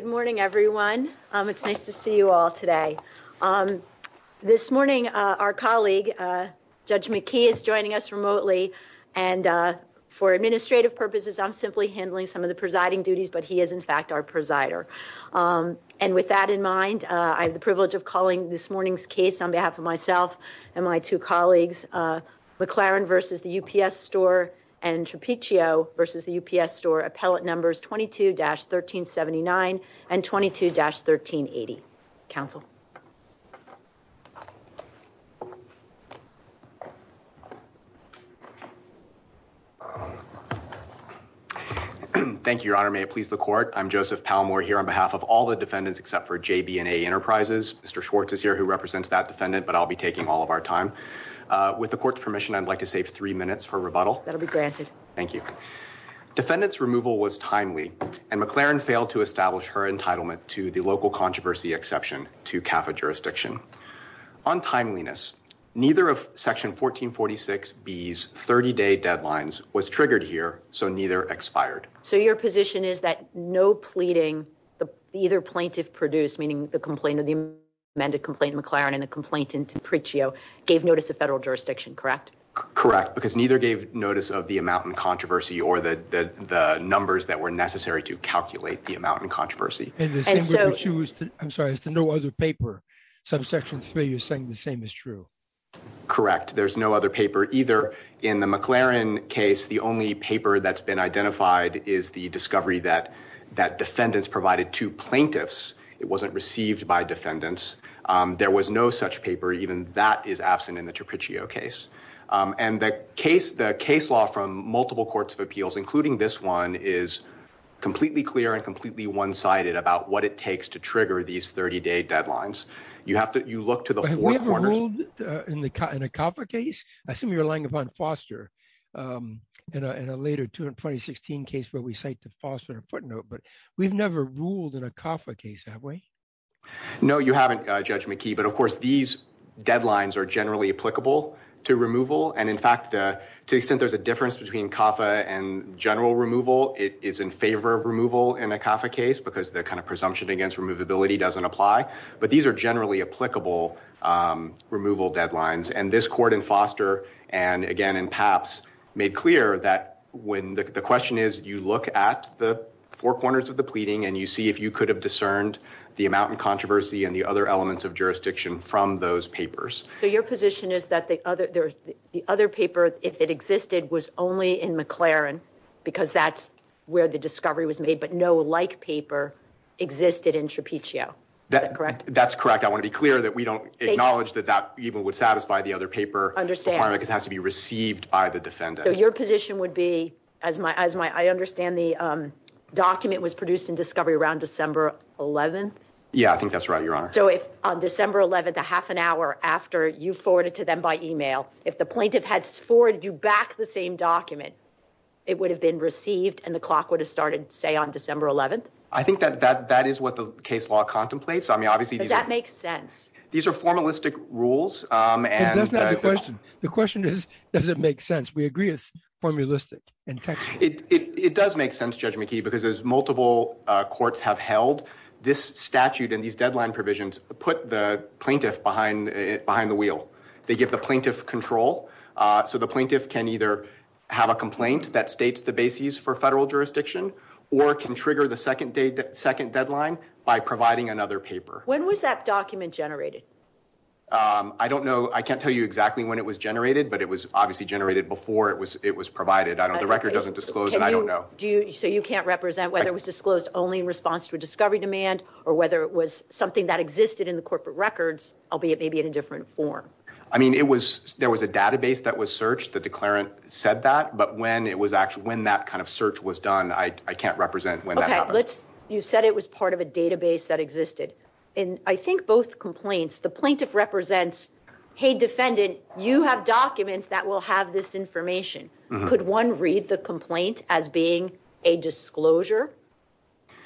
Good morning, everyone. It's nice to see you all today. This morning, our colleague Judge McKee is joining us remotely, and for administrative purposes, I'm simply handling some of the presiding duties, but he is in fact our presider. And with that in mind, I have the privilege of calling this morning's case on behalf of myself and my two colleagues, McLaren v. UPS Store and Trapiccio v. UPS Store, appellate numbers 22-1379 and 22-1380. Counsel. Thank you, Your Honor. May it please the Court. I'm Joseph Palmore here on behalf of all the defendants except for JB&A Enterprises. Mr. Schwartz is here, who represents that defendant, but I'll be taking all of our time. With the Court's permission, I'd like to save three That'll be granted. Thank you. Defendant's removal was timely, and McLaren failed to establish her entitlement to the local controversy exception to CAFA jurisdiction. On timeliness, neither of Section 1446B's 30-day deadlines was triggered here, so neither expired. So your position is that no pleading, either plaintiff produced, meaning the complaint of the amended complaint in McLaren and the complaint in Trapiccio, gave notice to federal jurisdiction, correct? Correct, because neither gave notice of the amount in controversy or the numbers that were necessary to calculate the amount in controversy. And the same way we choose to, I'm sorry, as to no other paper. So Section 3, you're saying the same is true? Correct. There's no other paper either. In the McLaren case, the only paper that's been identified is the discovery that defendants provided to plaintiffs. It wasn't received by defendants. There was no such paper, even that is absent in the Trapiccio case. And the case law from multiple courts of appeals, including this one, is completely clear and completely one-sided about what it takes to trigger these 30-day deadlines. You have to, you look to the four corners. Have we ever ruled in a CAFA case? I assume you're relying upon Foster in a later 2016 case where we cite to Foster in a footnote, but we've never ruled in a CAFA case, have we? No, you haven't, Judge McKee, but of course these deadlines are generally applicable to removal. And in fact, to the extent there's a difference between CAFA and general removal, it is in favor of removal in a CAFA case because the kind of presumption against removability doesn't apply. But these are generally applicable removal deadlines. And this court in Foster, and again in Papps, made clear that when the question is, you look at the four corners of the pleading and you see if you could discern the amount of controversy and the other elements of jurisdiction from those papers. So your position is that the other paper, if it existed, was only in McLaren because that's where the discovery was made, but no like paper existed in Shapiccio. Is that correct? That's correct. I want to be clear that we don't acknowledge that that even would satisfy the other paper requirement because it has to be received by the defendant. So your position would be, as my, I understand the document was produced in Discovery around December 11th? Yeah, I think that's right, Your Honor. So if on December 11th, a half an hour after you forwarded to them by email, if the plaintiff had forwarded you back the same document, it would have been received and the clock would have started, say, on December 11th? I think that that is what the case law contemplates. I mean, obviously that makes sense. These are formalistic rules. And that's not the question. The question is, does it make sense? We agree it's formalistic. In fact, it does make sense, Judge McKee, because as multiple courts have held, this statute and these deadline provisions put the plaintiff behind the wheel. They give the plaintiff control. So the plaintiff can either have a complaint that states the bases for federal jurisdiction or can trigger the second deadline by providing another paper. When was that document generated? I don't know. I can't tell you exactly when it was generated, but it was obviously generated before it was provided. The record doesn't disclose it. I don't know. So you can't represent whether it was disclosed only in response to a discovery demand or whether it was something that existed in the corporate records, albeit maybe in a different form? I mean, there was a database that was searched. The declarant said that. But when that kind of search was done, I can't represent when that happened. You said it was part of a database that existed. In, I think, both complaints, the plaintiff represents, hey, defendant, you have documents that will have this information. Could one read the complaint as being a disclosure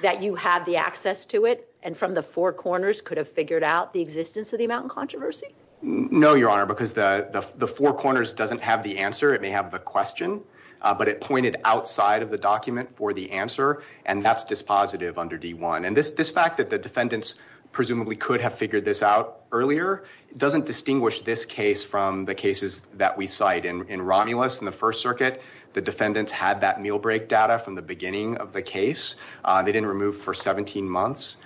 that you have the access to it and from the four corners could have figured out the existence of the amount in controversy? No, Your Honor, because the four corners doesn't have the answer. It may have the question, but it pointed outside of the document for the answer. And that's dispositive under D-1. And this fact that the defendants presumably could have figured this out earlier doesn't distinguish this case from the cases that we cite. In Romulus in the First Circuit, the defendants had that meal break data from the beginning of the case. They didn't remove for 17 months.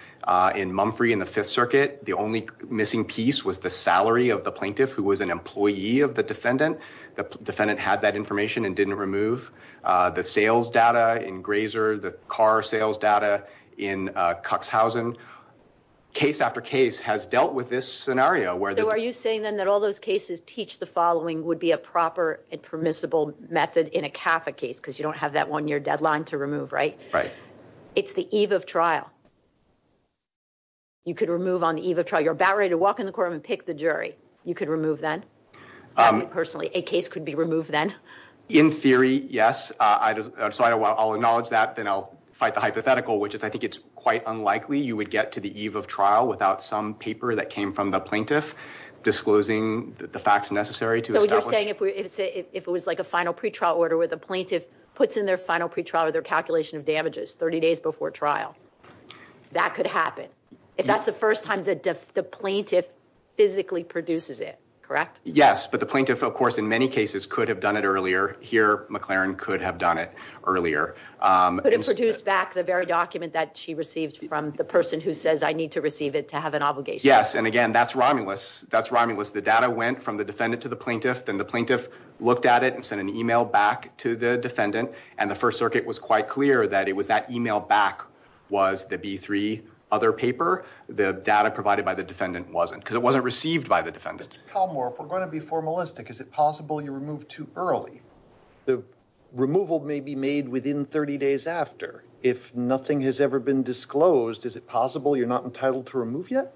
In Mumfrey in the Fifth Circuit, the only missing piece was the salary of the plaintiff who was an employee of the defendant. The defendant had that information and didn't remove the sales data in Grazer, the car sales data in Cuxhausen. Case after case has dealt with this scenario where the- So are you saying then that all those cases teach the following would be a proper and permissible method in a CAFA case because you don't have that one-year deadline to remove, right? Right. It's the eve of trial. You could remove on the eve of trial. You're about ready to walk in the courtroom and pick the jury. You could remove then? Personally, a case could be removed then? In theory, yes. So I'll acknowledge that. Then I'll fight the hypothetical, which is I think it's quite unlikely you would get to the eve of trial without some paper that came from the the facts necessary to establish- So you're saying if it was like a final pre-trial order where the plaintiff puts in their final pre-trial or their calculation of damages 30 days before trial, that could happen? If that's the first time the plaintiff physically produces it, correct? Yes. But the plaintiff, of course, in many cases could have done it earlier. Here, McLaren could have done it earlier. Could it produce back the very document that she received from the person who says, I need to receive it to have an obligation? Yes. And again, that's rhyming-less. The data went from the defendant to the plaintiff. Then the plaintiff looked at it and sent an email back to the defendant. And the First Circuit was quite clear that it was that email back was the B-3 other paper. The data provided by the defendant wasn't because it wasn't received by the defendant. Mr. Palmore, if we're going to be formalistic, is it possible you removed too early? The removal may be made within 30 days after. If nothing has ever been disclosed, is it possible you're not entitled to remove yet?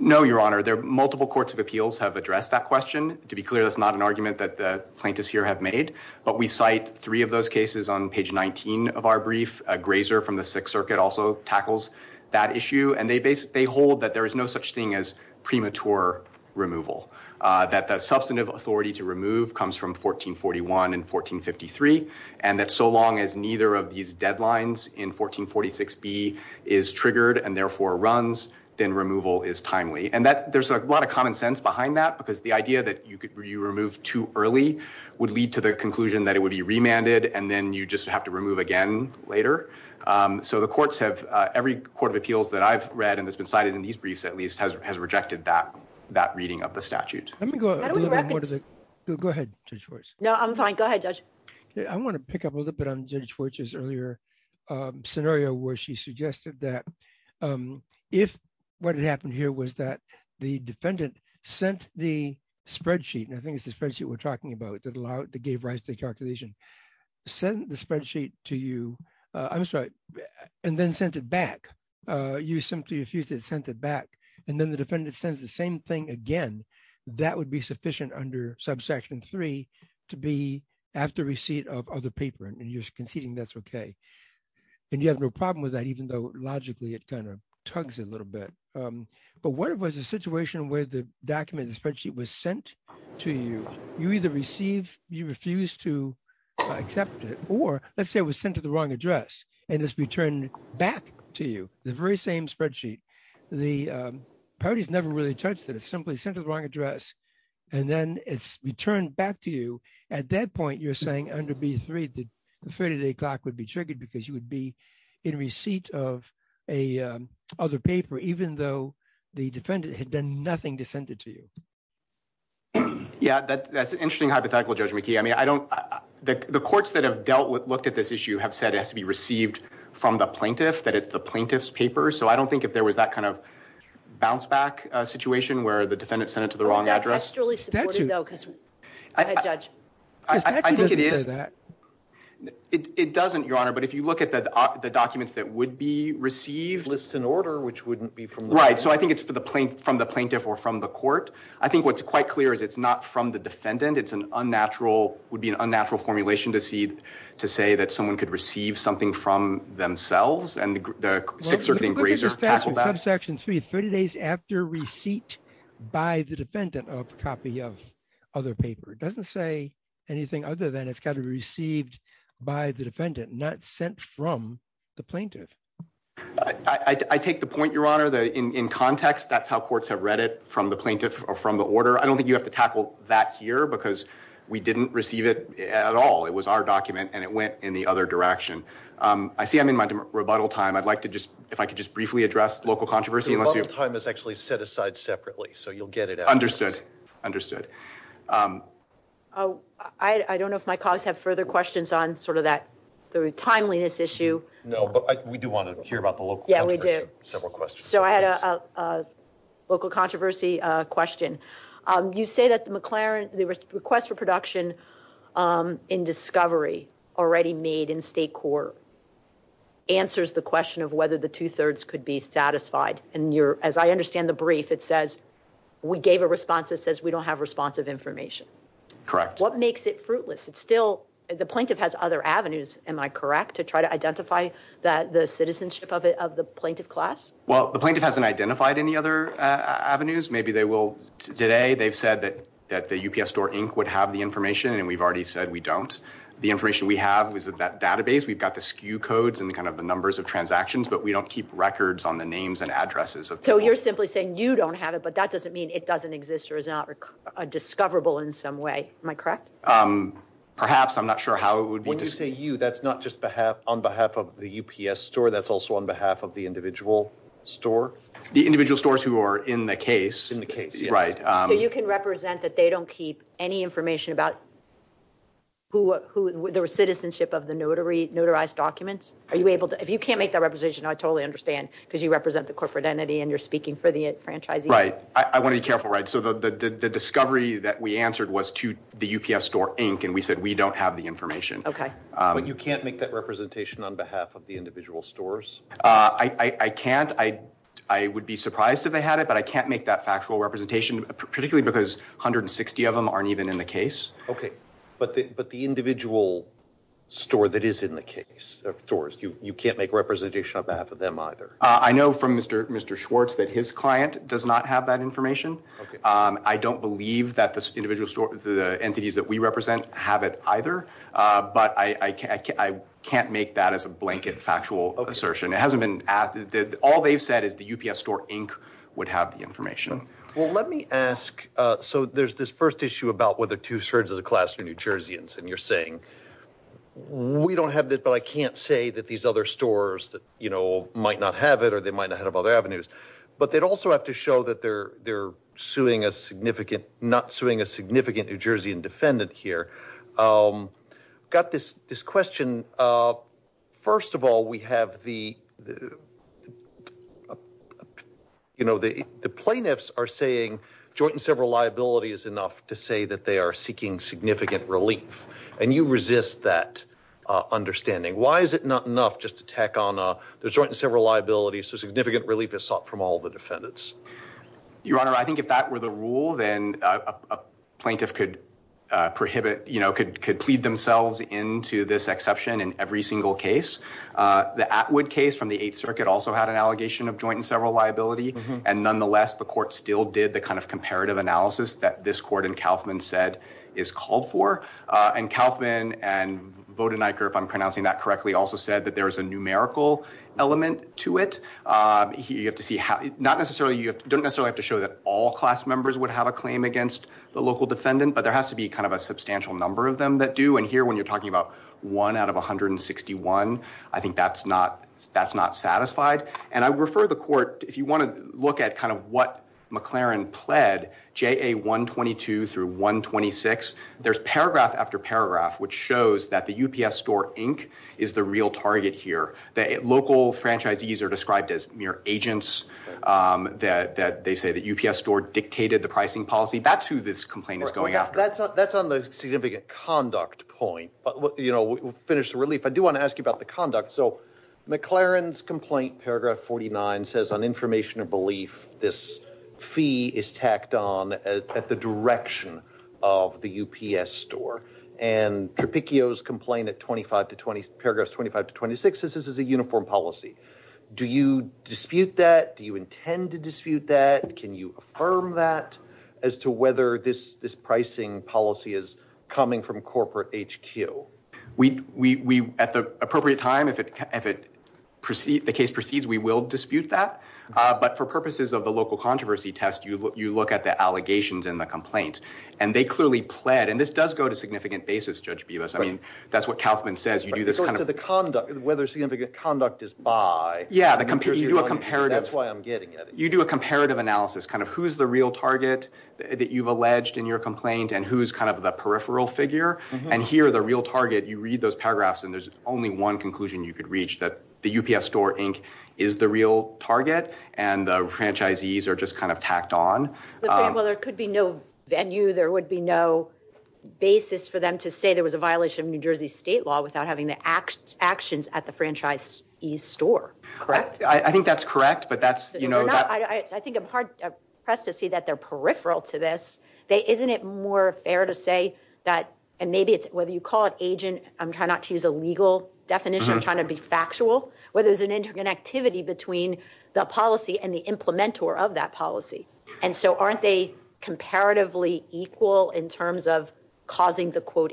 No, Your Honor. Multiple courts of appeals have addressed that question. To be clear, that's not an argument that the plaintiffs here have made. But we cite three of those cases on page 19 of our brief. Grazer from the Sixth Circuit also tackles that issue. And they hold that there is no such thing as premature removal, that the substantive authority to remove comes from 1441 and 1453, and that so long as neither of these deadlines in 1446B is triggered and therefore runs, then removal is timely. And there's a lot of common sense behind that, because the idea that you remove too early would lead to the conclusion that it would be remanded, and then you just have to remove again later. So the courts have, every court of appeals that I've read and that's been cited in these briefs at least, has rejected that reading of the statute. Let me go a little bit more to the... Go ahead, Judge Fortch. No, I'm fine. Go ahead, Judge. I want to pick up a little bit on Judge Fortch's earlier scenario where she suggested that if what had happened here was that the defendant sent the spreadsheet, and I think it's the spreadsheet we're talking about that gave rise to the calculation, sent the spreadsheet to you, I'm sorry, and then sent it back. You simply refused it and sent it back. And then the defendant sends the same thing again. That would be sufficient under subsection three to be after receipt of other paper, and you're conceding that's okay. And you have no problem with that, even though logically it kind of tugs a little bit. But what if it was a situation where the document, the spreadsheet was sent to you? You either receive, you refuse to accept it, or let's say it was sent to the wrong address, and it's returned back to you, the very same spreadsheet. The parties never really touched it. It's simply sent to the wrong address, and then it's returned back to you. At that point, you're saying under B3, the 30-day clock would be triggered because you would be in receipt of a other paper, even though the defendant had done nothing to send it to you. Yeah, that's an interesting hypothetical, Judge McKee. I mean, I don't, the courts that have dealt with, looked at this issue have said it has to be received from the plaintiff, that it's the plaintiff's paper. So I don't think if there was that kind of bounce-back situation, where the defendant sent it to the wrong address... Is that texturally supportive though? Go ahead, Judge. I think it is. It doesn't, Your Honor, but if you look at the documents that would be received... Lists in order, which wouldn't be from the... Right, so I think it's from the plaintiff or from the court. I think what's quite clear is it's not from the defendant. It's an unnatural, would be an unnatural formulation to see, to say that someone could receive something from themselves, and the subsection 3, 30 days after receipt by the defendant of copy of other paper. It doesn't say anything other than it's got to be received by the defendant, not sent from the plaintiff. I take the point, Your Honor, that in context, that's how courts have read it from the plaintiff or from the order. I don't think you have to tackle that here because we didn't receive it at all. It was our document and it went in the other direction. I see I'm in my rebuttal time. If I could just briefly address local controversy. The rebuttal time is actually set aside separately, so you'll get it afterwards. Understood, understood. I don't know if my colleagues have further questions on sort of that, the timeliness issue. No, but we do want to hear about the local controversy. Yeah, we do. Several questions. So I had a local controversy question. You say that the McLaren, the request for production in discovery already made in state court answers the question of whether the two thirds could be satisfied. And you're, as I understand the brief, it says we gave a response that says we don't have responsive information. Correct. What makes it fruitless? It's still the plaintiff has other avenues. Am I correct to try to identify that the citizenship of the plaintiff class? Well, the plaintiff hasn't identified any other avenues. Maybe they will today. They've said that that the UPS store Inc would have the information. And we've already said we don't. The information we have is that database. We've got the skew codes and kind of the numbers of transactions, but we don't keep records on the names and addresses. So you're simply saying you don't have it, but that doesn't mean it doesn't exist or is not discoverable in some way. Am I correct? Perhaps. I'm not sure how it would be. When you say you, that's not just behalf on behalf of the UPS store. That's also on behalf of the individual store, the individual stores who are in the case in the case. Right. So you can represent that they don't keep any information about the citizenship of the notary notarized documents. Are you able to, if you can't make that representation, I totally understand because you represent the corporate entity and you're speaking for the franchisee. Right. I want to be careful. Right. So the discovery that we answered was to the UPS store Inc. And we said, we don't have the information. Okay. But you can't make that representation on behalf of the individual stores. I can't. I would be surprised if they had it, but I can't make that factual representation, particularly because 160 of them aren't even in case. Okay. But the, but the individual store that is in the case of stores, you, you can't make representation on behalf of them either. I know from Mr. Mr. Schwartz that his client does not have that information. Okay. I don't believe that the individual store, the entities that we represent have it either. But I, I can't, I can't make that as a blanket factual assertion. It hasn't been asked. All they've said is the UPS store Inc. would have the information. Well, let me ask, uh, so there's this first issue about whether two thirds of the classroom, New Jerseyans, and you're saying we don't have this, but I can't say that these other stores that, you know, might not have it, or they might not have other avenues, but they'd also have to show that they're, they're suing a significant, not suing a significant New Jersey and defendant here. Um, got this, this question. Uh, first of all, we have the, the, uh, you know, the, the plaintiffs are saying joint and several liability is enough to say that they are seeking significant relief and you resist that, uh, understanding. Why is it not enough just to tack on a, there's joint and several liabilities. So significant relief is sought from all the defendants, your Honor. I think if that were the rule, then a plaintiff could, uh, prohibit, you know, could, could plead themselves into this exception in every single case. Uh, the Atwood case from the eighth circuit also had an allegation of joint and several liability. And nonetheless, the court still did the kind of comparative analysis that this court and Kaufman said is called for. Uh, and Kaufman and Vodeniker, if I'm pronouncing that correctly, also said that there was a numerical element to it. Uh, you have to see how, not necessarily, you don't necessarily have to show that all class members would have a claim against the local defendant, but there has to be kind of a substantial number of them that do. And here, when you're talking about one out of 161, I think that's not, that's not satisfied. And I refer the court, if you want to look at kind of what McLaren pled, JA 122 through 126, there's paragraph after paragraph, which shows that the UPS store Inc is the real target here. The local franchisees are described as mere agents, um, that, that they say that UPS store dictated the pricing policy. That's who this complaint is going after. That's on the significant conduct point, but we'll finish the relief. I do want to ask you about the conduct. So McLaren's complaint, paragraph 49 says on information of belief, this fee is tacked on at the direction of the UPS store and Tropicio's complaint at 25 to 20 paragraphs, 25 to 26, this is a uniform policy. Do you dispute that? Do you intend to dispute that? Can you affirm that as to whether this, this pricing policy is coming from corporate HQ? We, we, we, at the appropriate time, if it, if it proceed, the case proceeds, we will dispute that. Uh, but for purposes of the local controversy test, you look, you look at the allegations and the complaints and they clearly pled. And this does go to significant basis, judge Beavis. I mean, that's what Kaufman says. You do this kind of, whether significant conduct is by, yeah, you do a comparative, that's why I'm getting at it. You do a comparative analysis, kind of who's the real target that you've alleged in your complaint and who's kind of the peripheral figure. And here are the real target. You read those paragraphs and there's only one conclusion you could reach that the UPS store Inc is the real target and the franchisees are just kind of tacked on. Well, there could be no venue. There would be no basis for them to say there was a violation of New Jersey state law without having the actions at the franchise East store. Correct. I think that's correct, but that's, you know, I think I'm hard pressed to see that they're peripheral to this. They, isn't it more fair to say that, and maybe it's whether you call it agent, I'm trying not to use a legal definition of trying to be factual, whether there's an interconnectivity between the policy and the implement or of that policy. And so aren't they comparatively equal in terms of causing the quote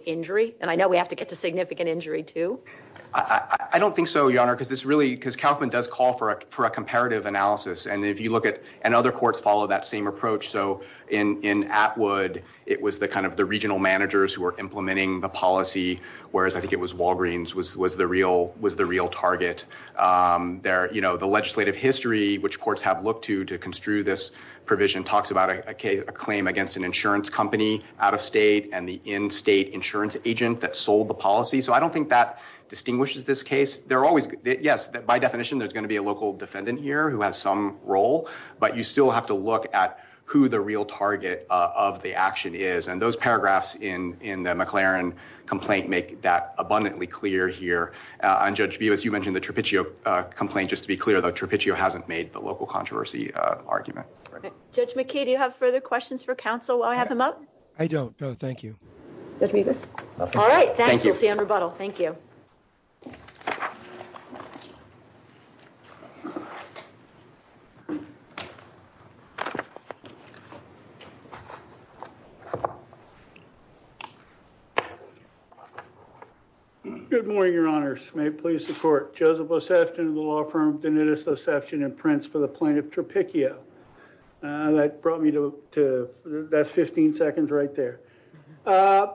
I don't think so, your honor, because this really, because Kaufman does call for a, for a comparative analysis. And if you look at, and other courts follow that same approach. So in, in Atwood, it was the kind of the regional managers who are implementing the policy. Whereas I think it was Walgreens was, was the real, was the real target. There, you know, the legislative history, which courts have looked to, to construe this provision talks about a K a claim against an insurance company out of state and the state insurance agent that sold the policy. So I don't think that distinguishes this case. They're always, yes, by definition, there's going to be a local defendant here who has some role, but you still have to look at who the real target of the action is. And those paragraphs in, in the McLaren complaint, make that abundantly clear here on judge Beavis. You mentioned the trapezoid complaint, just to be clear though, trapezoid hasn't made the local controversy argument. Judge McKee, do you have further questions for council while I have him up? I don't know. Thank you. All right. Thanks. We'll see you on rebuttal. Thank you. Good morning, your honors. May it please the court. Joseph Oseftin, the law firm, Denitus Oseftin and Prince for the plaintiff Tropicchio. That brought me to, that's 15 seconds right there. By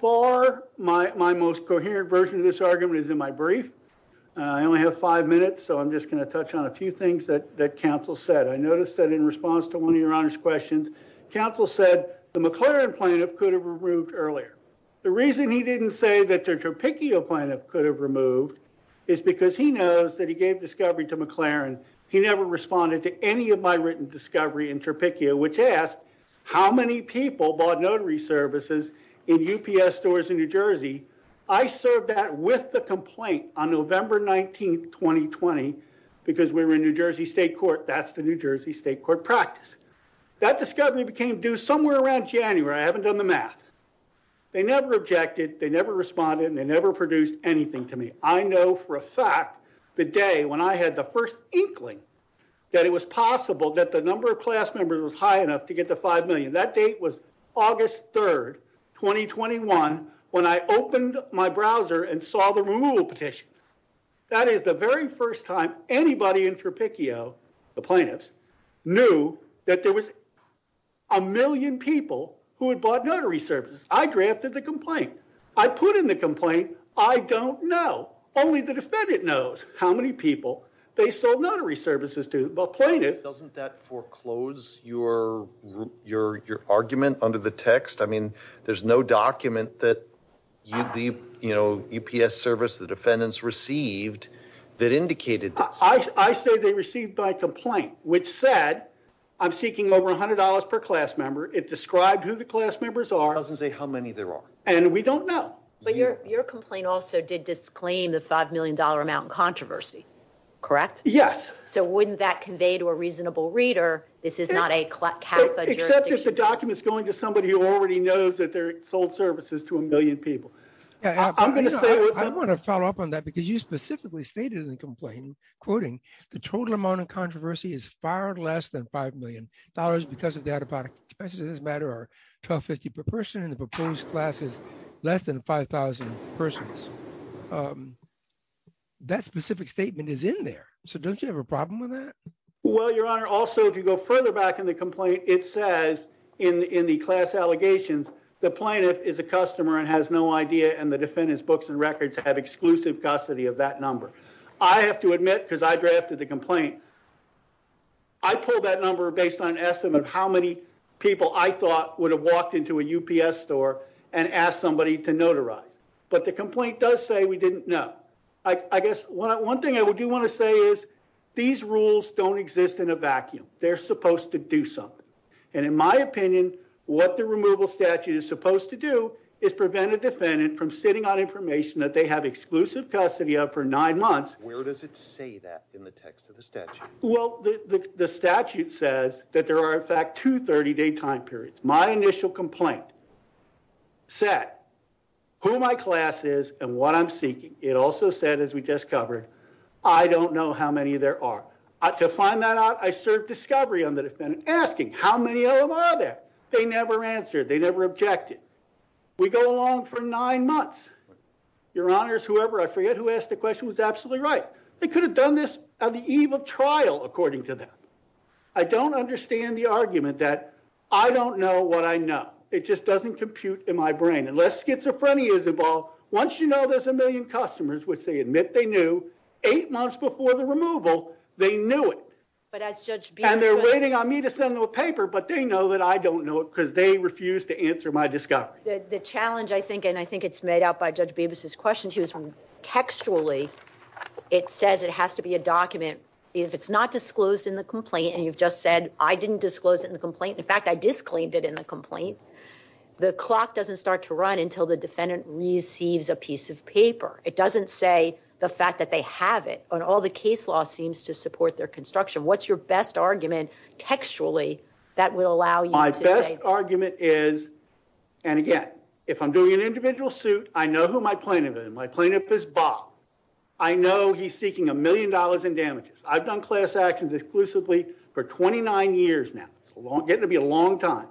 far, my most coherent version of this argument is in my brief. I only have five minutes, so I'm just going to touch on a few things that council said. I noticed that in response to one of your honors questions, council said the McLaren plaintiff could have removed earlier. The reason he didn't say that the Tropicchio plaintiff could have removed is because he knows that he gave discovery to McLaren. He never responded to any of my written discovery in Tropicchio, which asked how many people bought notary services in UPS stores in New Jersey. I served that with the complaint on November 19th, 2020, because we were in New Jersey state court. That's the New Jersey state court practice. That discovery became due somewhere around January. I haven't done the math. They never objected, they never responded, and they produced anything to me. I know for a fact the day when I had the first inkling that it was possible that the number of class members was high enough to get to five million. That date was August 3rd, 2021, when I opened my browser and saw the removal petition. That is the very first time anybody in Tropicchio, the plaintiffs, knew that there was a million people who had bought notary services. I drafted the complaint. I put in the complaint. I don't know. Only the defendant knows how many people they sold notary services to, but plaintiff... Doesn't that foreclose your argument under the text? I mean, there's no document that the UPS service, the defendants received that indicated this. I say they received my complaint, which said I'm seeking over $100 per class member. It described who the class members are. It doesn't say how many there are. And we don't know. But your complaint also did disclaim the five million dollar amount in controversy, correct? Yes. So wouldn't that convey to a reasonable reader this is not a CAFA jurisdiction? Except if the document's going to somebody who already knows that they're sold services to a million people. I'm going to follow up on that because you specifically stated in the complaint, quoting, the total amount of controversy is far less than five million dollars because of the out-of-product expenses, as a matter of 12.50 per person, and the proposed class is less than 5,000 persons. That specific statement is in there. So don't you have a problem with that? Well, your honor, also, if you go further back in the complaint, it says in the class allegations, the plaintiff is a customer and has no idea, and the defendant's books and records have exclusive that number. I have to admit, because I drafted the complaint, I pulled that number based on an estimate of how many people I thought would have walked into a UPS store and asked somebody to notarize. But the complaint does say we didn't know. I guess one thing I do want to say is, these rules don't exist in a vacuum. They're supposed to do something. And in my opinion, what the removal statute is supposed to do is prevent a defendant from sitting on information that they have exclusive custody of for nine months. Where does it say that in the text of the statute? Well, the statute says that there are, in fact, two 30-day time periods. My initial complaint said who my class is and what I'm seeking. It also said, as we just covered, I don't know how many there are. To find that out, I served discovery on the defendant, asking how many of them are there. They never answered. They never objected. We go along for nine months. Your Honors, whoever I forget who asked the question was absolutely right. They could have done this on the eve of trial, according to them. I don't understand the argument that I don't know what I know. It just doesn't compute in my brain. Unless schizophrenia is involved, once you know there's a million customers, which they admit they knew, eight months before the removal, they knew it. And they're waiting on me to send them a paper, but they know that I don't know it because they refused to answer my discovery. The challenge, I think, and I think it's made out by Judge Bibas's question too, is textually, it says it has to be a document. If it's not disclosed in the complaint, and you've just said, I didn't disclose it in the complaint. In fact, I disclaimed it in the complaint. The clock doesn't start to run until the defendant receives a piece of paper. It doesn't say the fact that they have it. And all the case law seems to support their construction. What's your best argument textually that will allow you to say- My best argument is, and again, if I'm doing an individual suit, I know who my plaintiff is. My plaintiff is Bob. I know he's seeking a million dollars in damages. I've done class actions exclusively for 29 years now. It's getting to be a long time.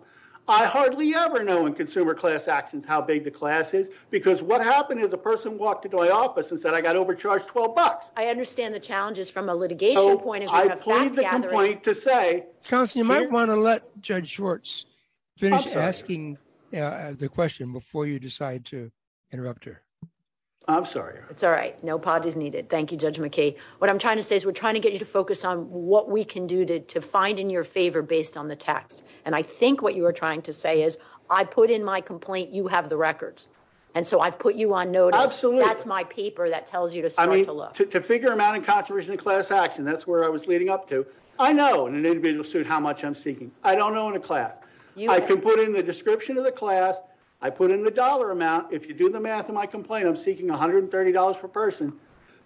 I hardly ever know in consumer class actions how big the class is, because what happened is a person walked into my office and said I got overcharged 12 bucks. I understand the challenges from a litigation point of view- I plead the complaint to say- Counselor, you might want to let Judge Schwartz finish asking the question before you decide to interrupt her. I'm sorry. It's all right. No apologies needed. Thank you, Judge McKay. What I'm trying to say is we're trying to get you to focus on what we can do to find in your favor based on the text. And I think what you were trying to say is I put in my complaint, you have the records. And so I've put you on notice. Absolutely. That's my paper that tells you to start to look. To figure amount and contribution of class action. That's where I was leading up to. I know in an individual suit how much I'm seeking. I don't know in a class. I can put in the description of the class. I put in the dollar amount. If you do the math of my complaint, I'm seeking $130 per person.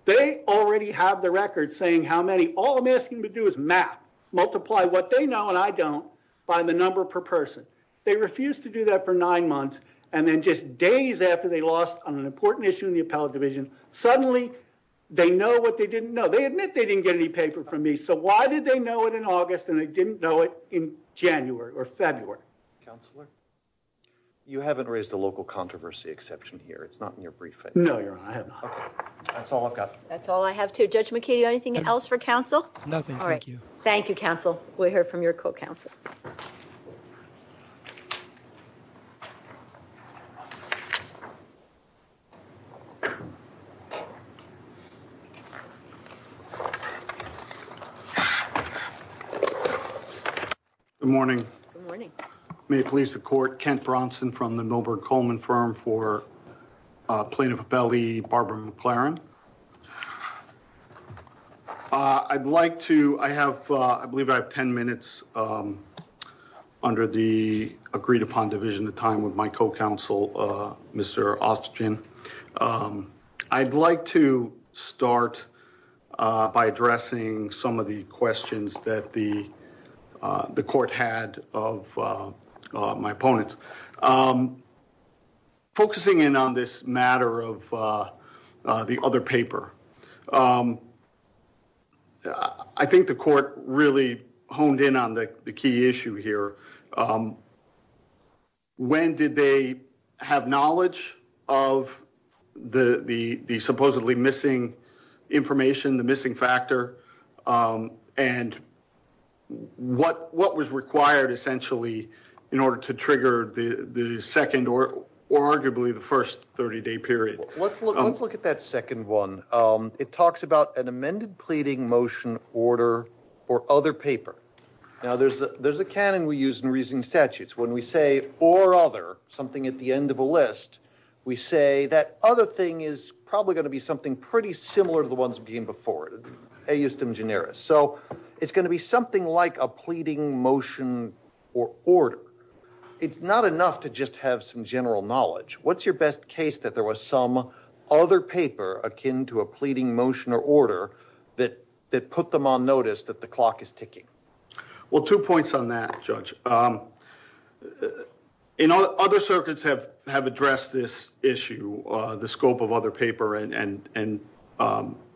They already have the record saying how many. All I'm asking them to do is math. Multiply what they know and I don't by the number per person. They refused to do that for nine months. And then just days after they lost on an important issue in the appellate division, suddenly they know what they didn't know. They admit they didn't get any paper from me. So why did they know it in August and they didn't know it in January or February? Counselor? You haven't raised a local controversy exception here. It's not in your briefing. No, Your Honor. I have not. Okay. That's all I've got. That's all I have too. Judge McKinney, anything else for counsel? Nothing. Thank you. Thank you, counsel. We'll hear from your co-counsel. Good morning. Good morning. May it please the court, Kent Bronson from the Milberg Coleman firm for plaintiff of Abeli, Barbara McLaren. I'd like to, I have, I believe I have 10 minutes under the agreed upon division of time with my co-counsel, Mr. Austin. I'd like to start by addressing some of the questions that the court had of my opponents. I'm focusing in on this matter of the other paper. I think the court really honed in on the key issue here. When did they have knowledge of the supposedly missing information, the missing factor, and what was required essentially in order to trigger the second or arguably the first 30-day period? Let's look at that second one. It talks about an amended pleading motion order or other paper. Now, there's a canon we use in reasoning statutes. When we say or other, something at the end of a list, we say that other thing is probably going to be something pretty similar to the ones we've seen before. So, it's going to be something like a pleading motion or order. It's not enough to just have some general knowledge. What's your best case that there was some other paper akin to a pleading motion or order that put them on notice that the clock is ticking? Well, two points on that, Judge. Other circuits have addressed this issue, the scope of other papers, and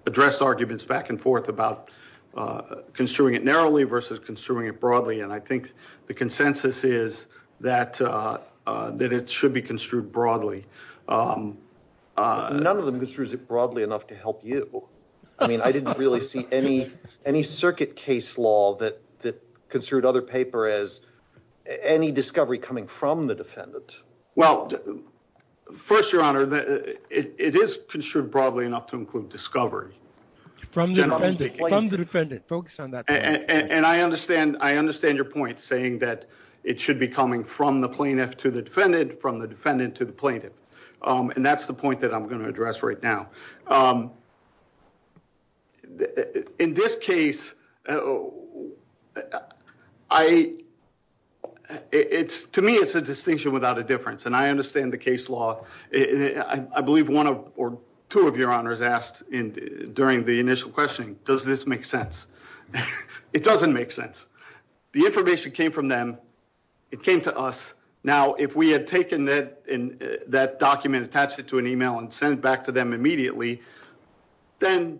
addressed arguments back and forth about construing it narrowly versus construing it broadly. I think the consensus is that it should be construed broadly. None of them construes it broadly enough to help you. I mean, I didn't really see any circuit case law that construed other paper as any discovery coming from the defendant. Well, first, Your Honor, it is construed broadly enough to include discovery. From the defendant. Focus on that. And I understand your point saying that it should be coming from the plaintiff to the defendant, from the defendant to the plaintiff. And that's the point that I'm going to address right now. In this case, to me, it's a distinction without a difference. And I understand the case law. I believe one or two of your honors asked during the initial questioning, does this make sense? It doesn't make sense. The information came from them. It came to us. Now, if we had taken that document, attached it to an email and sent it back to them immediately, then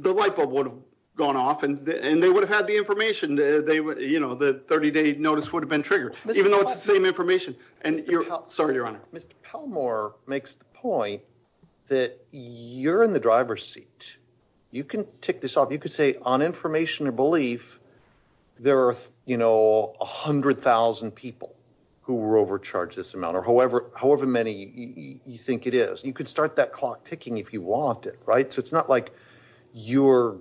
the light bulb would have gone off and they would have had the information. The 30-day notice would have been triggered, even though it's the same information. Sorry, Your Honor. Mr. Pellmore makes the point that you're in the driver's seat. You can tick this off. You could say on information or belief, there are 100,000 people who were overcharged this amount or however many you think it is. You could start that clock ticking if you want it. So it's not like you're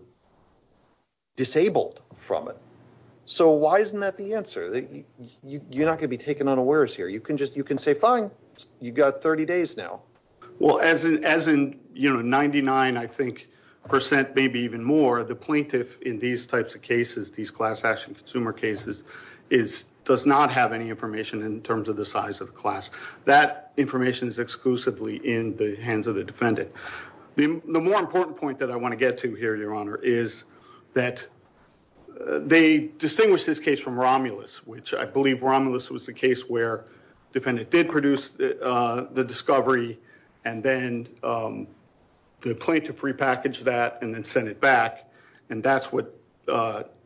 disabled from it. So why isn't that the answer? You're not going to be taken unawares here. You can say, fine, you've got 30 days now. Well, as in 99%, I think, percent, maybe even more, the plaintiff in these types of cases, these class action consumer cases, does not have any information in terms of the size of the class. That information is exclusively in the hands of the defendant. The more important point that I want to get to here, Your Honor, is that they distinguished this case from Romulus, which I believe Romulus was the case where the defendant did produce the discovery and then the plaintiff repackaged that and then sent it back. And that's what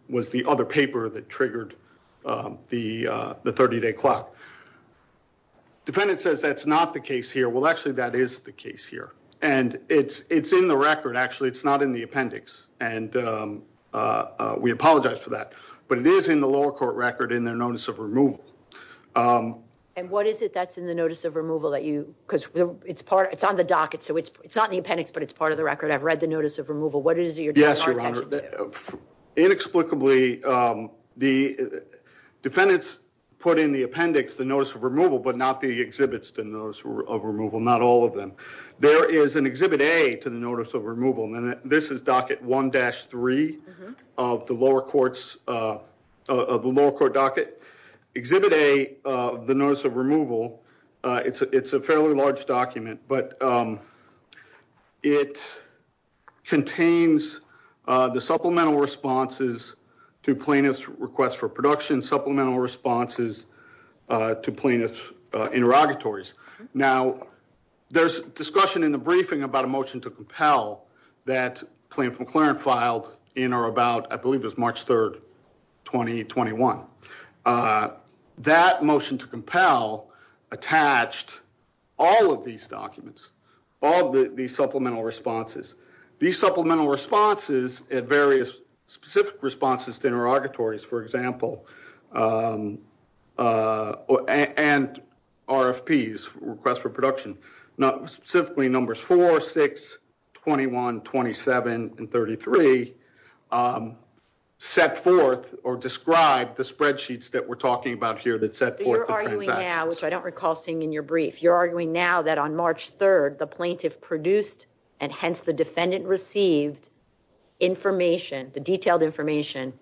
was the other paper that triggered the 30-day clock. Defendant says that's not the case here. Well, actually, that is the case here. And it's in the record. Actually, it's not in the appendix. And we apologize for that. But it is in the lower court record in their notice of removal. And what is it that's in the notice of removal that you, because it's part, it's on the docket, so it's not in the appendix, but it's part of the record. I've read the notice of removal. What is it you're drawing our attention to? Yes, Your Honor. Inexplicably, the defendants put in the appendix the notice of removal, but not the exhibits to notice of removal, not all of them. There is an exhibit A to the notice of removal. And this is docket 1-3 of the lower court docket. Exhibit A of the notice of removal, it's a fairly large document. But it contains the supplemental responses to plaintiff's request for production, supplemental responses to plaintiff's interrogatories. Now, there's discussion in the briefing about a motion to compel that plaintiff McClaren filed in or about, I believe it was March 3rd, 2021. That motion to compel attached all of these documents, all of these supplemental responses. These supplemental responses at various specific responses to interrogatories, for example, and RFPs, requests for production, not specifically numbers 4, 6, 21, 27, and 33, set forth or describe the spreadsheets that we're talking about here that set forth the transactions. So you're arguing now, which I don't recall seeing in your brief, you're arguing now that on March 3rd, the plaintiff produced and hence the defendant received information, the detailed information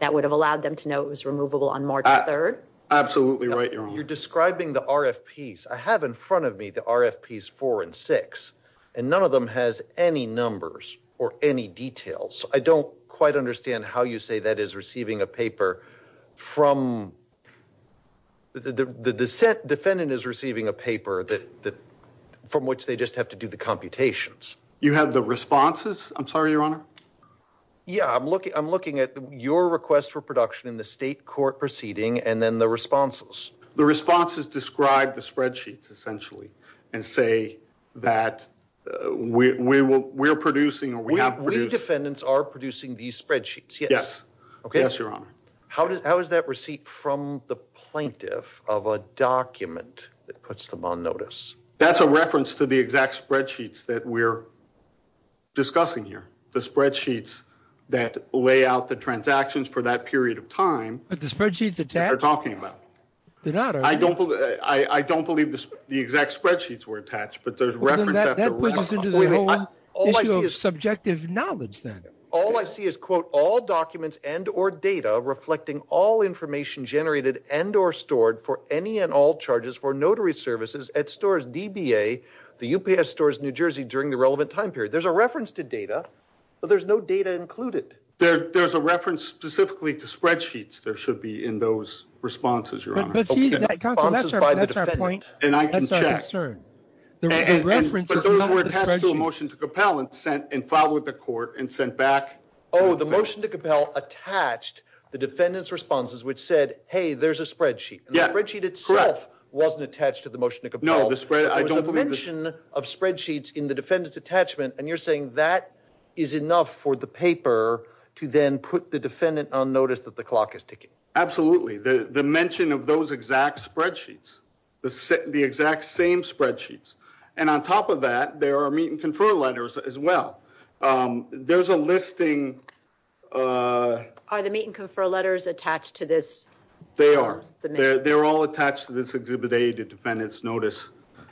that would have allowed them to know it was removable on March 3rd? Absolutely right, Your Honor. You're describing the RFPs. I have in front of me the RFPs 4 and 6, and none of them has any numbers or any details. I don't quite understand how you say that is receiving a paper from, the defendant is receiving a paper from which they just have to do the computations. You have the responses? I'm sorry, Your Honor. Yeah, I'm looking at your request for production in the state court proceeding and then the responses. The responses describe the spreadsheets essentially and say that we're producing or we have produced. We defendants are producing these spreadsheets. Yes. Yes, Your Honor. How is that receipt from the plaintiff of a document that puts them on notice? That's a reference to the exact spreadsheets that we're discussing here. The spreadsheets that lay out the transactions for that period of time. But the spreadsheets attached? They're talking about. They're not, are they? I don't believe the exact spreadsheets were attached, but there's reference after reference. That puts us into the whole issue of subjective knowledge then. All I see is, quote, all documents and or data reflecting all information generated and or stored for any and all charges for notary services at stores DBA, the UPS stores New Jersey during the relevant time period. There's a reference to data, but there's no data included. There's a reference specifically to spreadsheets. There should be in those responses, Your Honor. That's our point. And I can check. But those were attached to a motion to compel and sent and filed with the court and sent back. Oh, the motion to compel attached the defendant's responses, which said, hey, there's a spreadsheet. The spreadsheet itself wasn't attached to the motion to compel. There was a mention of spreadsheets in the defendant's attachment. And you're saying that is enough for the paper to then put the defendant on notice that the clock is ticking? Absolutely. The mention of those exact spreadsheets, the exact same spreadsheets. And on top of that, there are meet and confer letters as well. There's a listing. Are the meet and confer letters attached to this? They are. They're all attached to this exhibit A to defend its notice.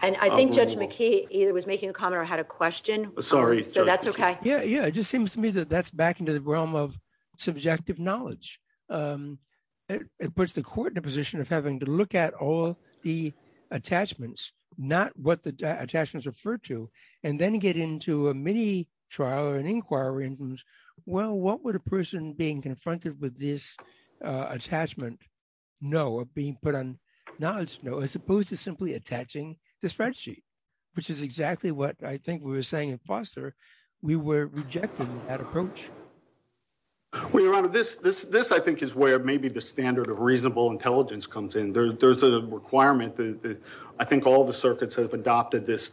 And I think Judge McKee either was making a comment or had a question. Sorry. So that's OK. Yeah. Yeah. It just seems to me that that's back into the realm of subjective knowledge. It puts the court in a position of having to look at all the attachments, not what the attachments refer to, and then get into a mini trial or an inquiry. Well, what would a person being confronted with this attachment know of being put on knowledge? No, as opposed to simply attaching the spreadsheet, which is exactly what I think we were saying in Foster. We were rejecting that approach. Well, Your Honor, this I think is where maybe the standard of reasonable intelligence comes in. There's a requirement that I think all the circuits have adopted this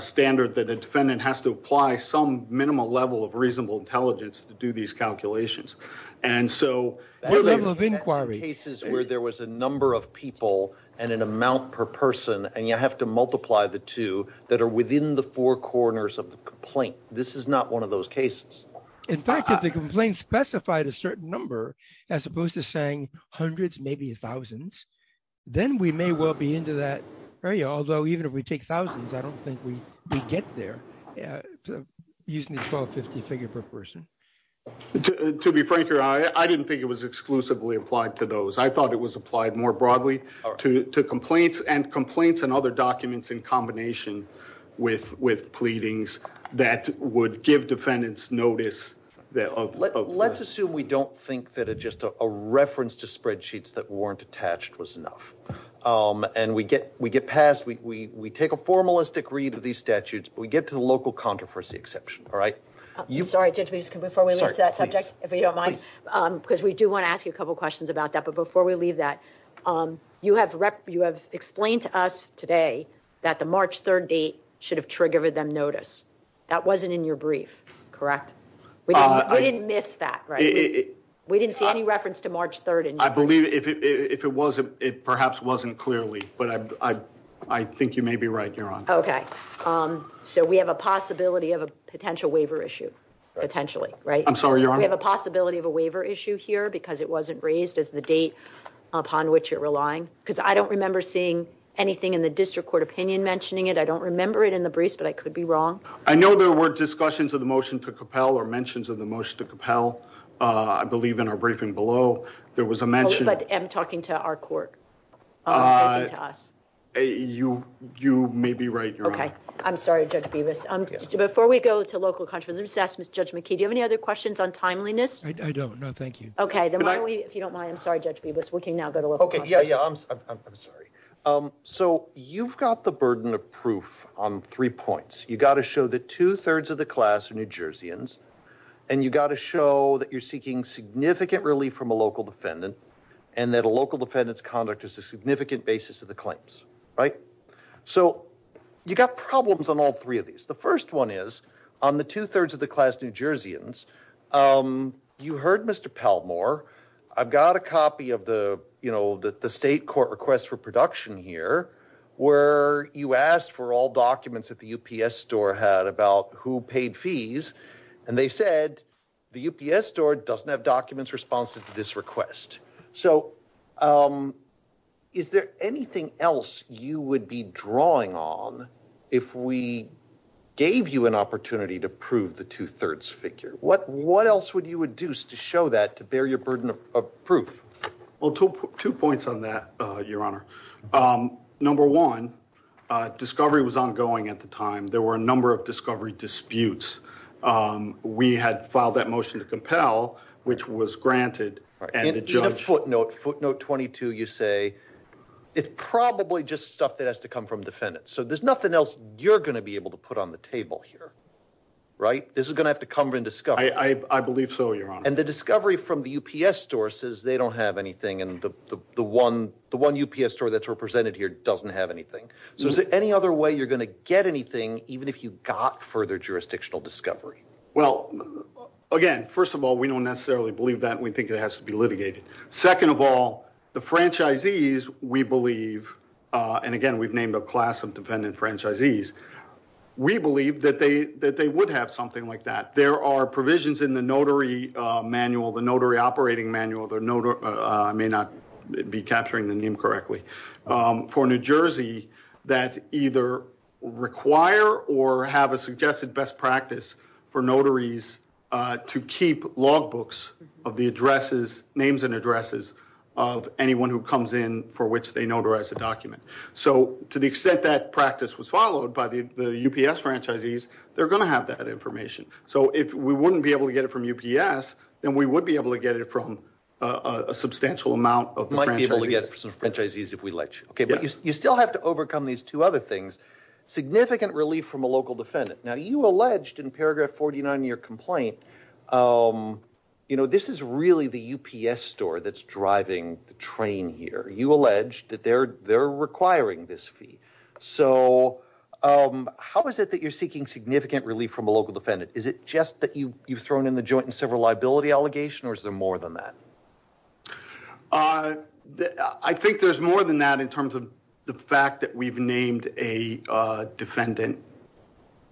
standard that a defendant has to apply some minimal level of reasonable intelligence to do these calculations. And so that level of inquiry cases where there was a number of people and an amount per person and you have to multiply the two that are within the four corners of the complaint. This is not one of those cases. In fact, if the complaint specified a certain number, as opposed to saying hundreds, maybe thousands, then we may well be that area. Although even if we take thousands, I don't think we get there using the 1250 figure per person. To be frank, Your Honor, I didn't think it was exclusively applied to those. I thought it was applied more broadly to complaints and complaints and other documents in combination with pleadings that would give defendants notice. Let's assume we don't think that just a reference to spreadsheets that weren't attached was enough. And we get passed, we take a formalistic read of these statutes, but we get to the local controversy exception, all right? Sorry, Judge, before we lose that subject, if you don't mind, because we do want to ask you a couple questions about that. But before we leave that, you have explained to us today that the March 3rd date should have triggered them notice. That wasn't in your brief, correct? We didn't miss that, right? We didn't see reference to March 3rd. I believe if it was, it perhaps wasn't clearly. But I think you may be right, Your Honor. Okay, so we have a possibility of a potential waiver issue, potentially, right? I'm sorry, Your Honor. We have a possibility of a waiver issue here because it wasn't raised as the date upon which you're relying. Because I don't remember seeing anything in the district court opinion mentioning it. I don't remember it in the briefs, but I could be wrong. I know there were discussions of the motion to compel or mentions of the motion to compel, I believe in our briefing below, there was a mention. But I'm talking to our court, not to us. You may be right, Your Honor. Okay, I'm sorry, Judge Bevis. Before we go to local controversies, let me just ask Judge McKee, do you have any other questions on timeliness? I don't, no, thank you. Okay, if you don't mind, I'm sorry, Judge Bevis, we can now go to local controversies. Okay, yeah, yeah, I'm sorry. So you've got the burden of proof on three points. You've got to show that two-thirds of the class are New Jerseyans, and you've got to show that you're seeking significant relief from a local defendant, and that a local defendant's conduct is a significant basis of the claims, right? So you've got problems on all three of these. The first one is, on the two-thirds of the class New Jerseyans, you heard Mr. Palmore. I've got a copy of the, you know, the state court request for production here, where you asked for all documents that the UPS store had about who paid fees, and they said the UPS store doesn't have documents responsive to this request. So is there anything else you would be drawing on if we gave you an opportunity to prove the two-thirds figure? What else would you induce to show that to bear your burden of proof? Well, two points on that, Your Honor. Number one, discovery was ongoing at the time. There were a number of documents. We had filed that motion to compel, which was granted. In a footnote, footnote 22, you say, it's probably just stuff that has to come from defendants. So there's nothing else you're going to be able to put on the table here, right? This is going to have to come from discovery. I believe so, Your Honor. And the discovery from the UPS store says they don't have anything, and the one UPS store that's represented here doesn't have anything. So is there any other way you're going to get anything, even if you got further jurisdictional discovery? Well, again, first of all, we don't necessarily believe that. We think it has to be litigated. Second of all, the franchisees, we believe, and again, we've named a class of defendant franchisees. We believe that they would have something like that. There are provisions in the notary manual, the notary operating manual. I may not be capturing the name correctly. For New Jersey, that either require or have a suggested best practice for notaries to keep logbooks of the addresses, names and addresses of anyone who comes in for which they notarize the document. So to the extent that practice was followed by the UPS franchisees, they're going to have that information. So if we wouldn't be able to get it from UPS, then we would be able to get it from a substantial amount of the franchisees. We might be able to get some franchisees if we let you. Okay, but you still have to overcome these two other things. Significant relief from a local defendant. Now, you alleged in paragraph 49 in your complaint, this is really the UPS store that's driving the train here. You alleged that they're requiring this fee. So how is it that you're seeking significant relief from a local defendant? Is it just that you've thrown in the liability allegation or is there more than that? I think there's more than that in terms of the fact that we've named a defendant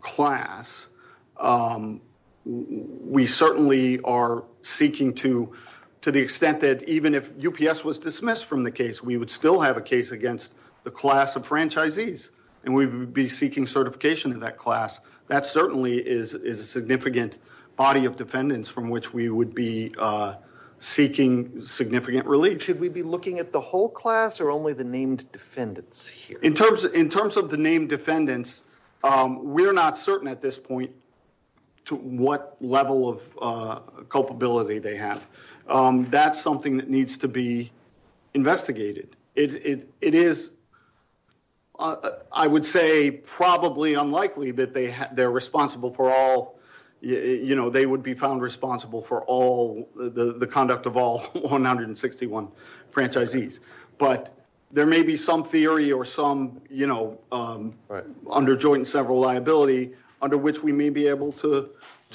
class. We certainly are seeking to the extent that even if UPS was dismissed from the case, we would still have a case against the class of franchisees and we would be seeking certification of that class. That certainly is a significant body of which we would be seeking significant relief. Should we be looking at the whole class or only the named defendants here? In terms of the named defendants, we're not certain at this point to what level of culpability they have. That's something that needs to be investigated. It is, I would say, probably unlikely that they're responsible for all, you know, they would be found responsible for all the conduct of all 161 franchisees. But there may be some theory or some, you know, under joint and several liability under which we may be able to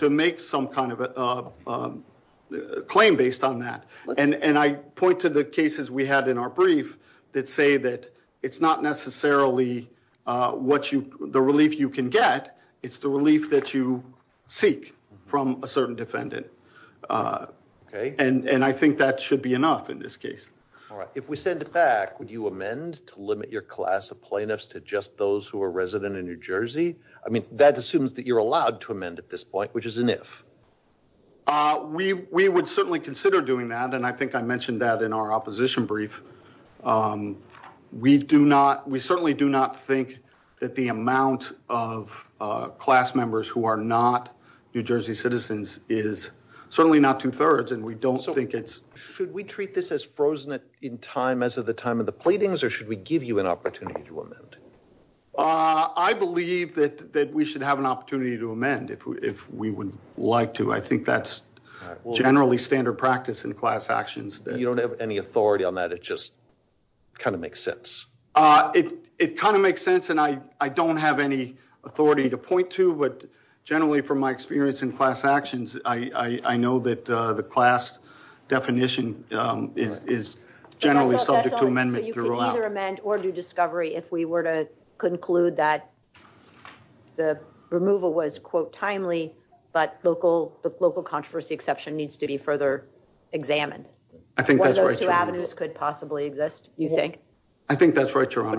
make some kind of a claim based on that. And I point to the cases we had in our brief that say that it's not necessarily the relief you can get, it's the relief that you seek from a certain defendant. And I think that should be enough in this case. All right, if we send it back, would you amend to limit your class of plaintiffs to just those who are resident in New Jersey? I mean, that assumes that you're allowed to amend at this point, which is an if. We would certainly consider doing that and I think I mentioned that in our class members who are not New Jersey citizens is certainly not two-thirds and we don't think it's. Should we treat this as frozen in time as of the time of the pleadings or should we give you an opportunity to amend? I believe that we should have an opportunity to amend if we would like to. I think that's generally standard practice in class actions. You don't have any authority on that, it just kind of makes sense. It kind of makes sense and I don't have any authority to point to, but generally from my experience in class actions, I know that the class definition is generally subject to amendment. So you can either amend or do discovery if we were to conclude that the removal was quote timely, but local controversy exception needs to be further examined. I think that's right. Those two avenues could possibly exist, you think? I think that's if you really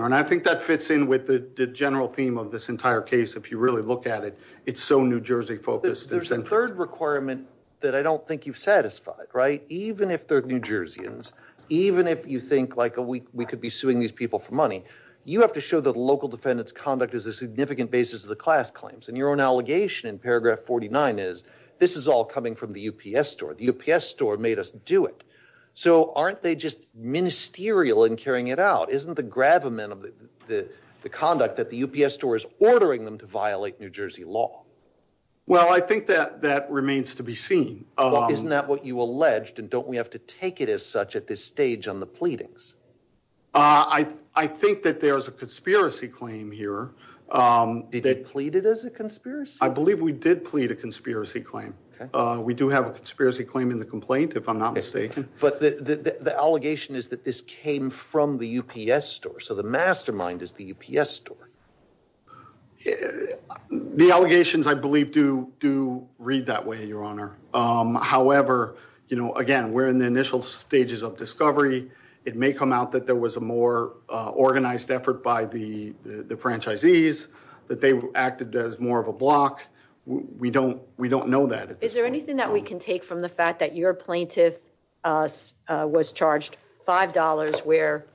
look at it, it's so New Jersey focused. There's a third requirement that I don't think you've satisfied, right? Even if they're New Jerseyans, even if you think like we could be suing these people for money, you have to show that local defendants conduct is a significant basis of the class claims and your own allegation in paragraph 49 is this is all coming from the UPS store. The UPS store made us do it. So aren't they just ministerial in carrying it out? Isn't the gravamen of the conduct that the UPS store is ordering them to violate New Jersey law? Well, I think that that remains to be seen. Isn't that what you alleged and don't we have to take it as such at this stage on the pleadings? I think that there's a conspiracy claim here. Did they plead it as a conspiracy? I believe we did plead a conspiracy claim. We do have a conspiracy claim in the complaint, if I'm not mistaken. But the allegation is that this came from the UPS store. So the mastermind is the UPS store. The allegations, I believe, do read that way, Your Honor. However, you know, again, we're in the initial stages of discovery. It may come out that there was a more organized effort by the franchisees, that they acted as more of a block. We don't know that. Is there anything that we can take from the fact that your plaintiff was charged $5 where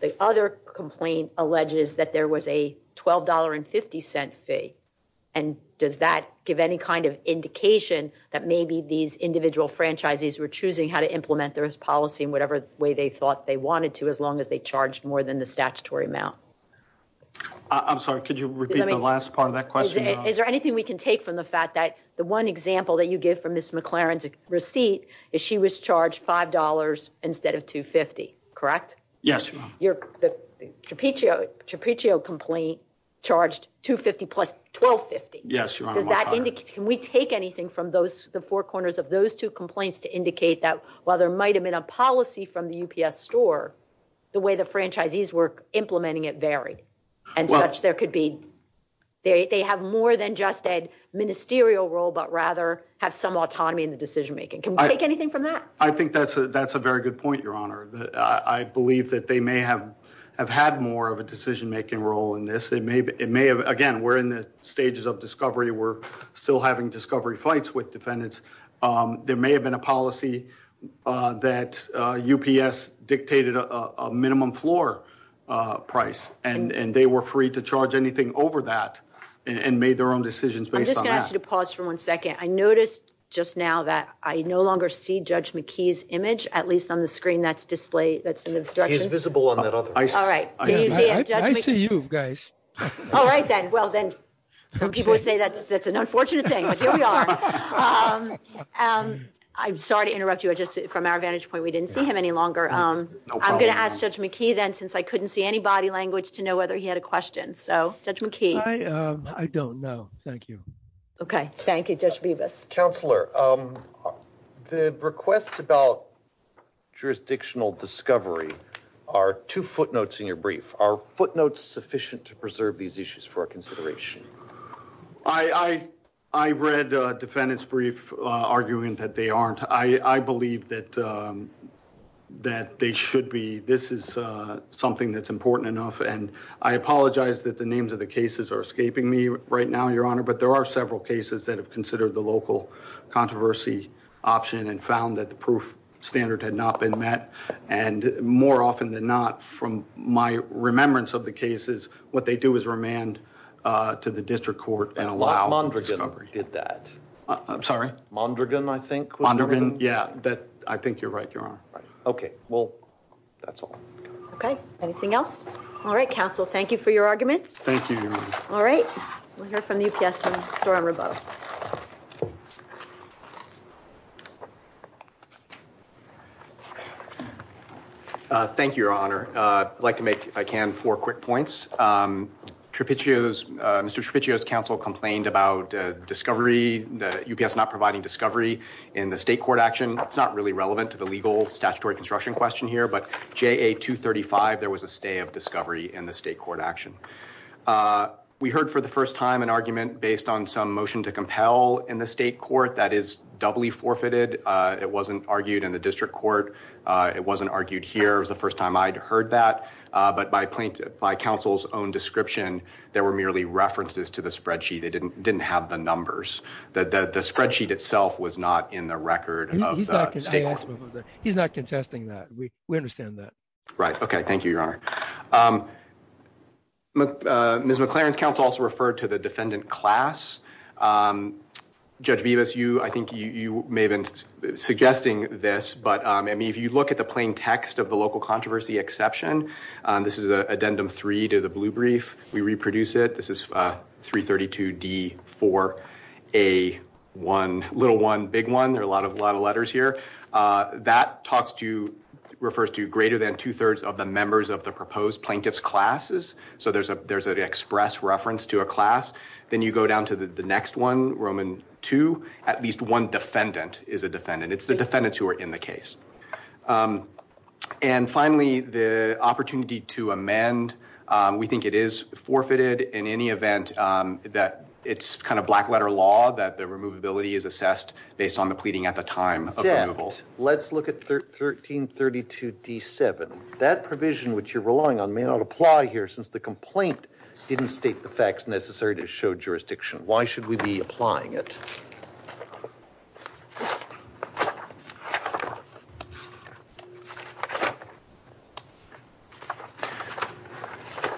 the other complaint alleges that there was a $12.50 fee? And does that give any kind of indication that maybe these individual franchisees were choosing how to implement their policy in whatever way they thought they wanted to as long as they charged more than the statutory amount? I'm sorry, could you repeat the last part of that question? Is there anything we can take from the fact that the one example that you give from Ms. McLaren's receipt is she was charged $5 instead of $2.50, correct? Yes, Your Honor. The Trapiccio complaint charged $2.50 plus $12.50. Yes, Your Honor. Can we take anything from the four corners of those two complaints to indicate that while there might have been a policy from the UPS store, the way the franchisees were but rather have some autonomy in the decision-making? Can we take anything from that? I think that's a very good point, Your Honor. I believe that they may have had more of a decision-making role in this. Again, we're in the stages of discovery. We're still having discovery fights with defendants. There may have been a policy that UPS dictated a minimum floor price, and they were free to charge anything over that and made their own decisions based on that. I'm going to ask you to pause for one second. I noticed just now that I no longer see Judge McKee's image, at least on the screen that's in the direction... He's visible on that other... All right. Can you see it, Judge McKee? I see you, guys. All right, then. Well, then, some people would say that's an unfortunate thing, but here we are. I'm sorry to interrupt you. Just from our vantage point, we didn't see him any longer. I'm going to ask Judge McKee then, since I couldn't see any body language, to know whether he had a question. Judge McKee? I don't know. Thank you. Thank you. Judge Bevis? Counselor, the requests about jurisdictional discovery are two footnotes in your brief. Are footnotes sufficient to preserve these issues for our consideration? I read a defendant's brief arguing that they aren't. I believe that they should be. This is something that's important enough. I apologize that the names of the cases are escaping me right now, Your Honor, but there are several cases that have considered the local controversy option and found that the proof standard had not been met. And more often than not, from my remembrance of the cases, what they do is remand to the district court and allow... Mondragon did that. I'm sorry? Mondragon, I think. Mondragon, yeah. I think you're right, Your Honor. Okay. Well, that's all. Okay. Anything else? All right, we'll hear from the UPS and Store-on-Rebeau. Thank you, Your Honor. I'd like to make, if I can, four quick points. Mr. Trapiccio's counsel complained about the UPS not providing discovery in the state court action. It's not really relevant to the legal statutory construction question here, but JA-235, there was a stay of we heard for the first time an argument based on some motion to compel in the state court that is doubly forfeited. It wasn't argued in the district court. It wasn't argued here. It was the first time I'd heard that. But by counsel's own description, there were merely references to the spreadsheet. They didn't have the numbers. The spreadsheet itself was not in the record. He's not contesting that. We understand that. Right. Okay. Thank you, Your Honor. Ms. McLaren's counsel also referred to the defendant class. Judge Bevis, I think you may have been suggesting this, but I mean, if you look at the plain text of the local controversy exception, this is addendum three to the blue brief. We reproduce it. This is 332D4A1, little one, big one. There are a lot of letters here. That refers to greater than two-thirds of the members of the proposed plaintiff's classes. So there's an express reference to a class. Then you go down to the next one, Roman two, at least one defendant is a defendant. It's the defendants who are in the case. And finally, the opportunity to amend, we think it is forfeited in any event that it's kind of black letter law that the provision which you're relying on may not apply here since the complaint didn't state the facts necessary to show jurisdiction. Why should we be applying it?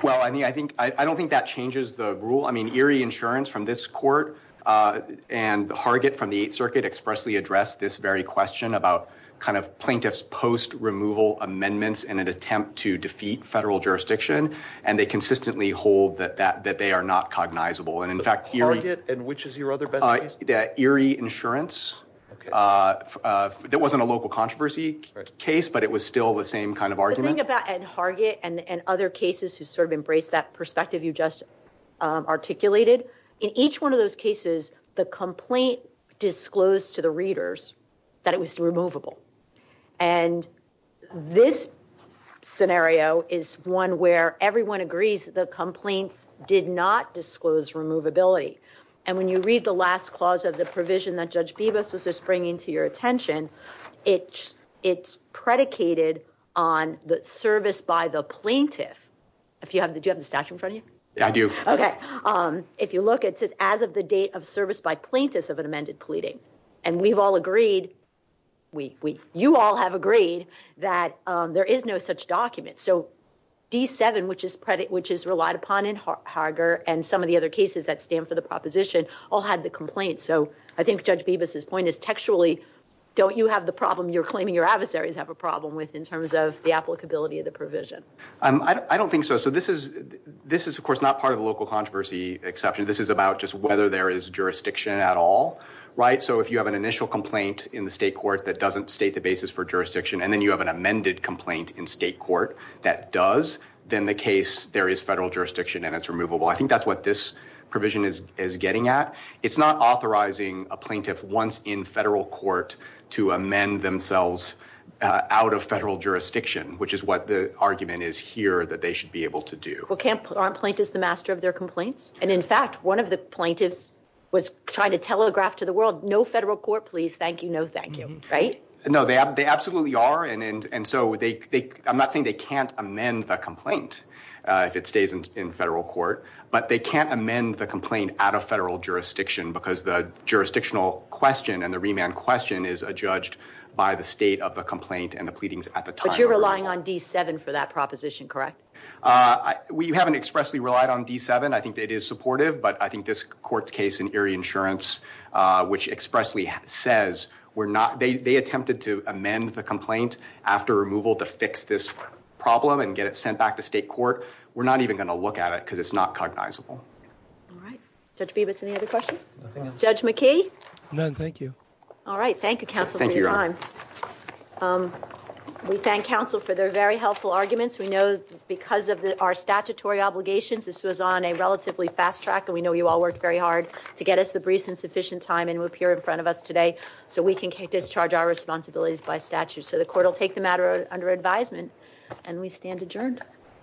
Well, I don't think that changes the rule. I mean, Erie Insurance from this court and Hargit from the Eighth Circuit expressly addressed this very question about kind of plaintiff's post amendments in an attempt to defeat federal jurisdiction. And they consistently hold that they are not cognizable. And in fact- Hargit and which is your other best case? Erie Insurance. That wasn't a local controversy case, but it was still the same kind of argument. The thing about Hargit and other cases who sort of embrace that perspective you just articulated, in each one of those cases, the complaint disclosed to the readers that it was removable. And this scenario is one where everyone agrees the complaints did not disclose removability. And when you read the last clause of the provision that Judge Bibas was just bringing to your attention, it's predicated on the service by the plaintiff. Do you have the statute in front of you? I do. Okay. If you look at it, as of the date of service by plaintiffs of an amended pleading, and we've all agreed, you all have agreed that there is no such document. So D7, which is relied upon in Hargit and some of the other cases that stand for the proposition all had the complaint. So I think Judge Bibas's point is textually, don't you have the problem you're claiming your adversaries have a problem with in terms of the applicability of the provision? I don't think so. So this is of course not part of the local controversy exception. This is about just whether there is jurisdiction at all. So if you have an initial complaint in the state court that doesn't state the basis for jurisdiction, and then you have an amended complaint in state court that does, then the case, there is federal jurisdiction and it's removable. I think that's what this provision is getting at. It's not authorizing a plaintiff once in federal court to amend themselves out of federal jurisdiction, which is what the argument is here that they should be able to do. Well, aren't plaintiffs the master of their complaints? And in fact, one of the plaintiffs was trying to telegraph to the world, no federal court, please. Thank you. No, thank you. Right? No, they absolutely are. And so I'm not saying they can't amend the complaint if it stays in federal court, but they can't amend the complaint out of federal jurisdiction because the jurisdictional question and the remand question is judged by the state of the complaint and the pleadings at the time. But you're relying on D7 for that proposition, correct? We haven't expressly relied on D7. I think it is supportive, but I think this court's case in Erie Insurance, which expressly says we're not, they attempted to amend the complaint after removal to fix this problem and get it sent back to state court. We're not even going to look at it because it's not cognizable. All right. Judge Bibas, any other questions? Judge McKee? None. Thank you. All right. Thank you, counsel, for your time. Um, we thank counsel for their very helpful arguments. We know because of our statutory obligations, this was on a relatively fast track and we know you all worked very hard to get us the briefs in sufficient time and appear in front of us today so we can discharge our responsibilities by statute. So the court will take the matter under advisement and we stand adjourned.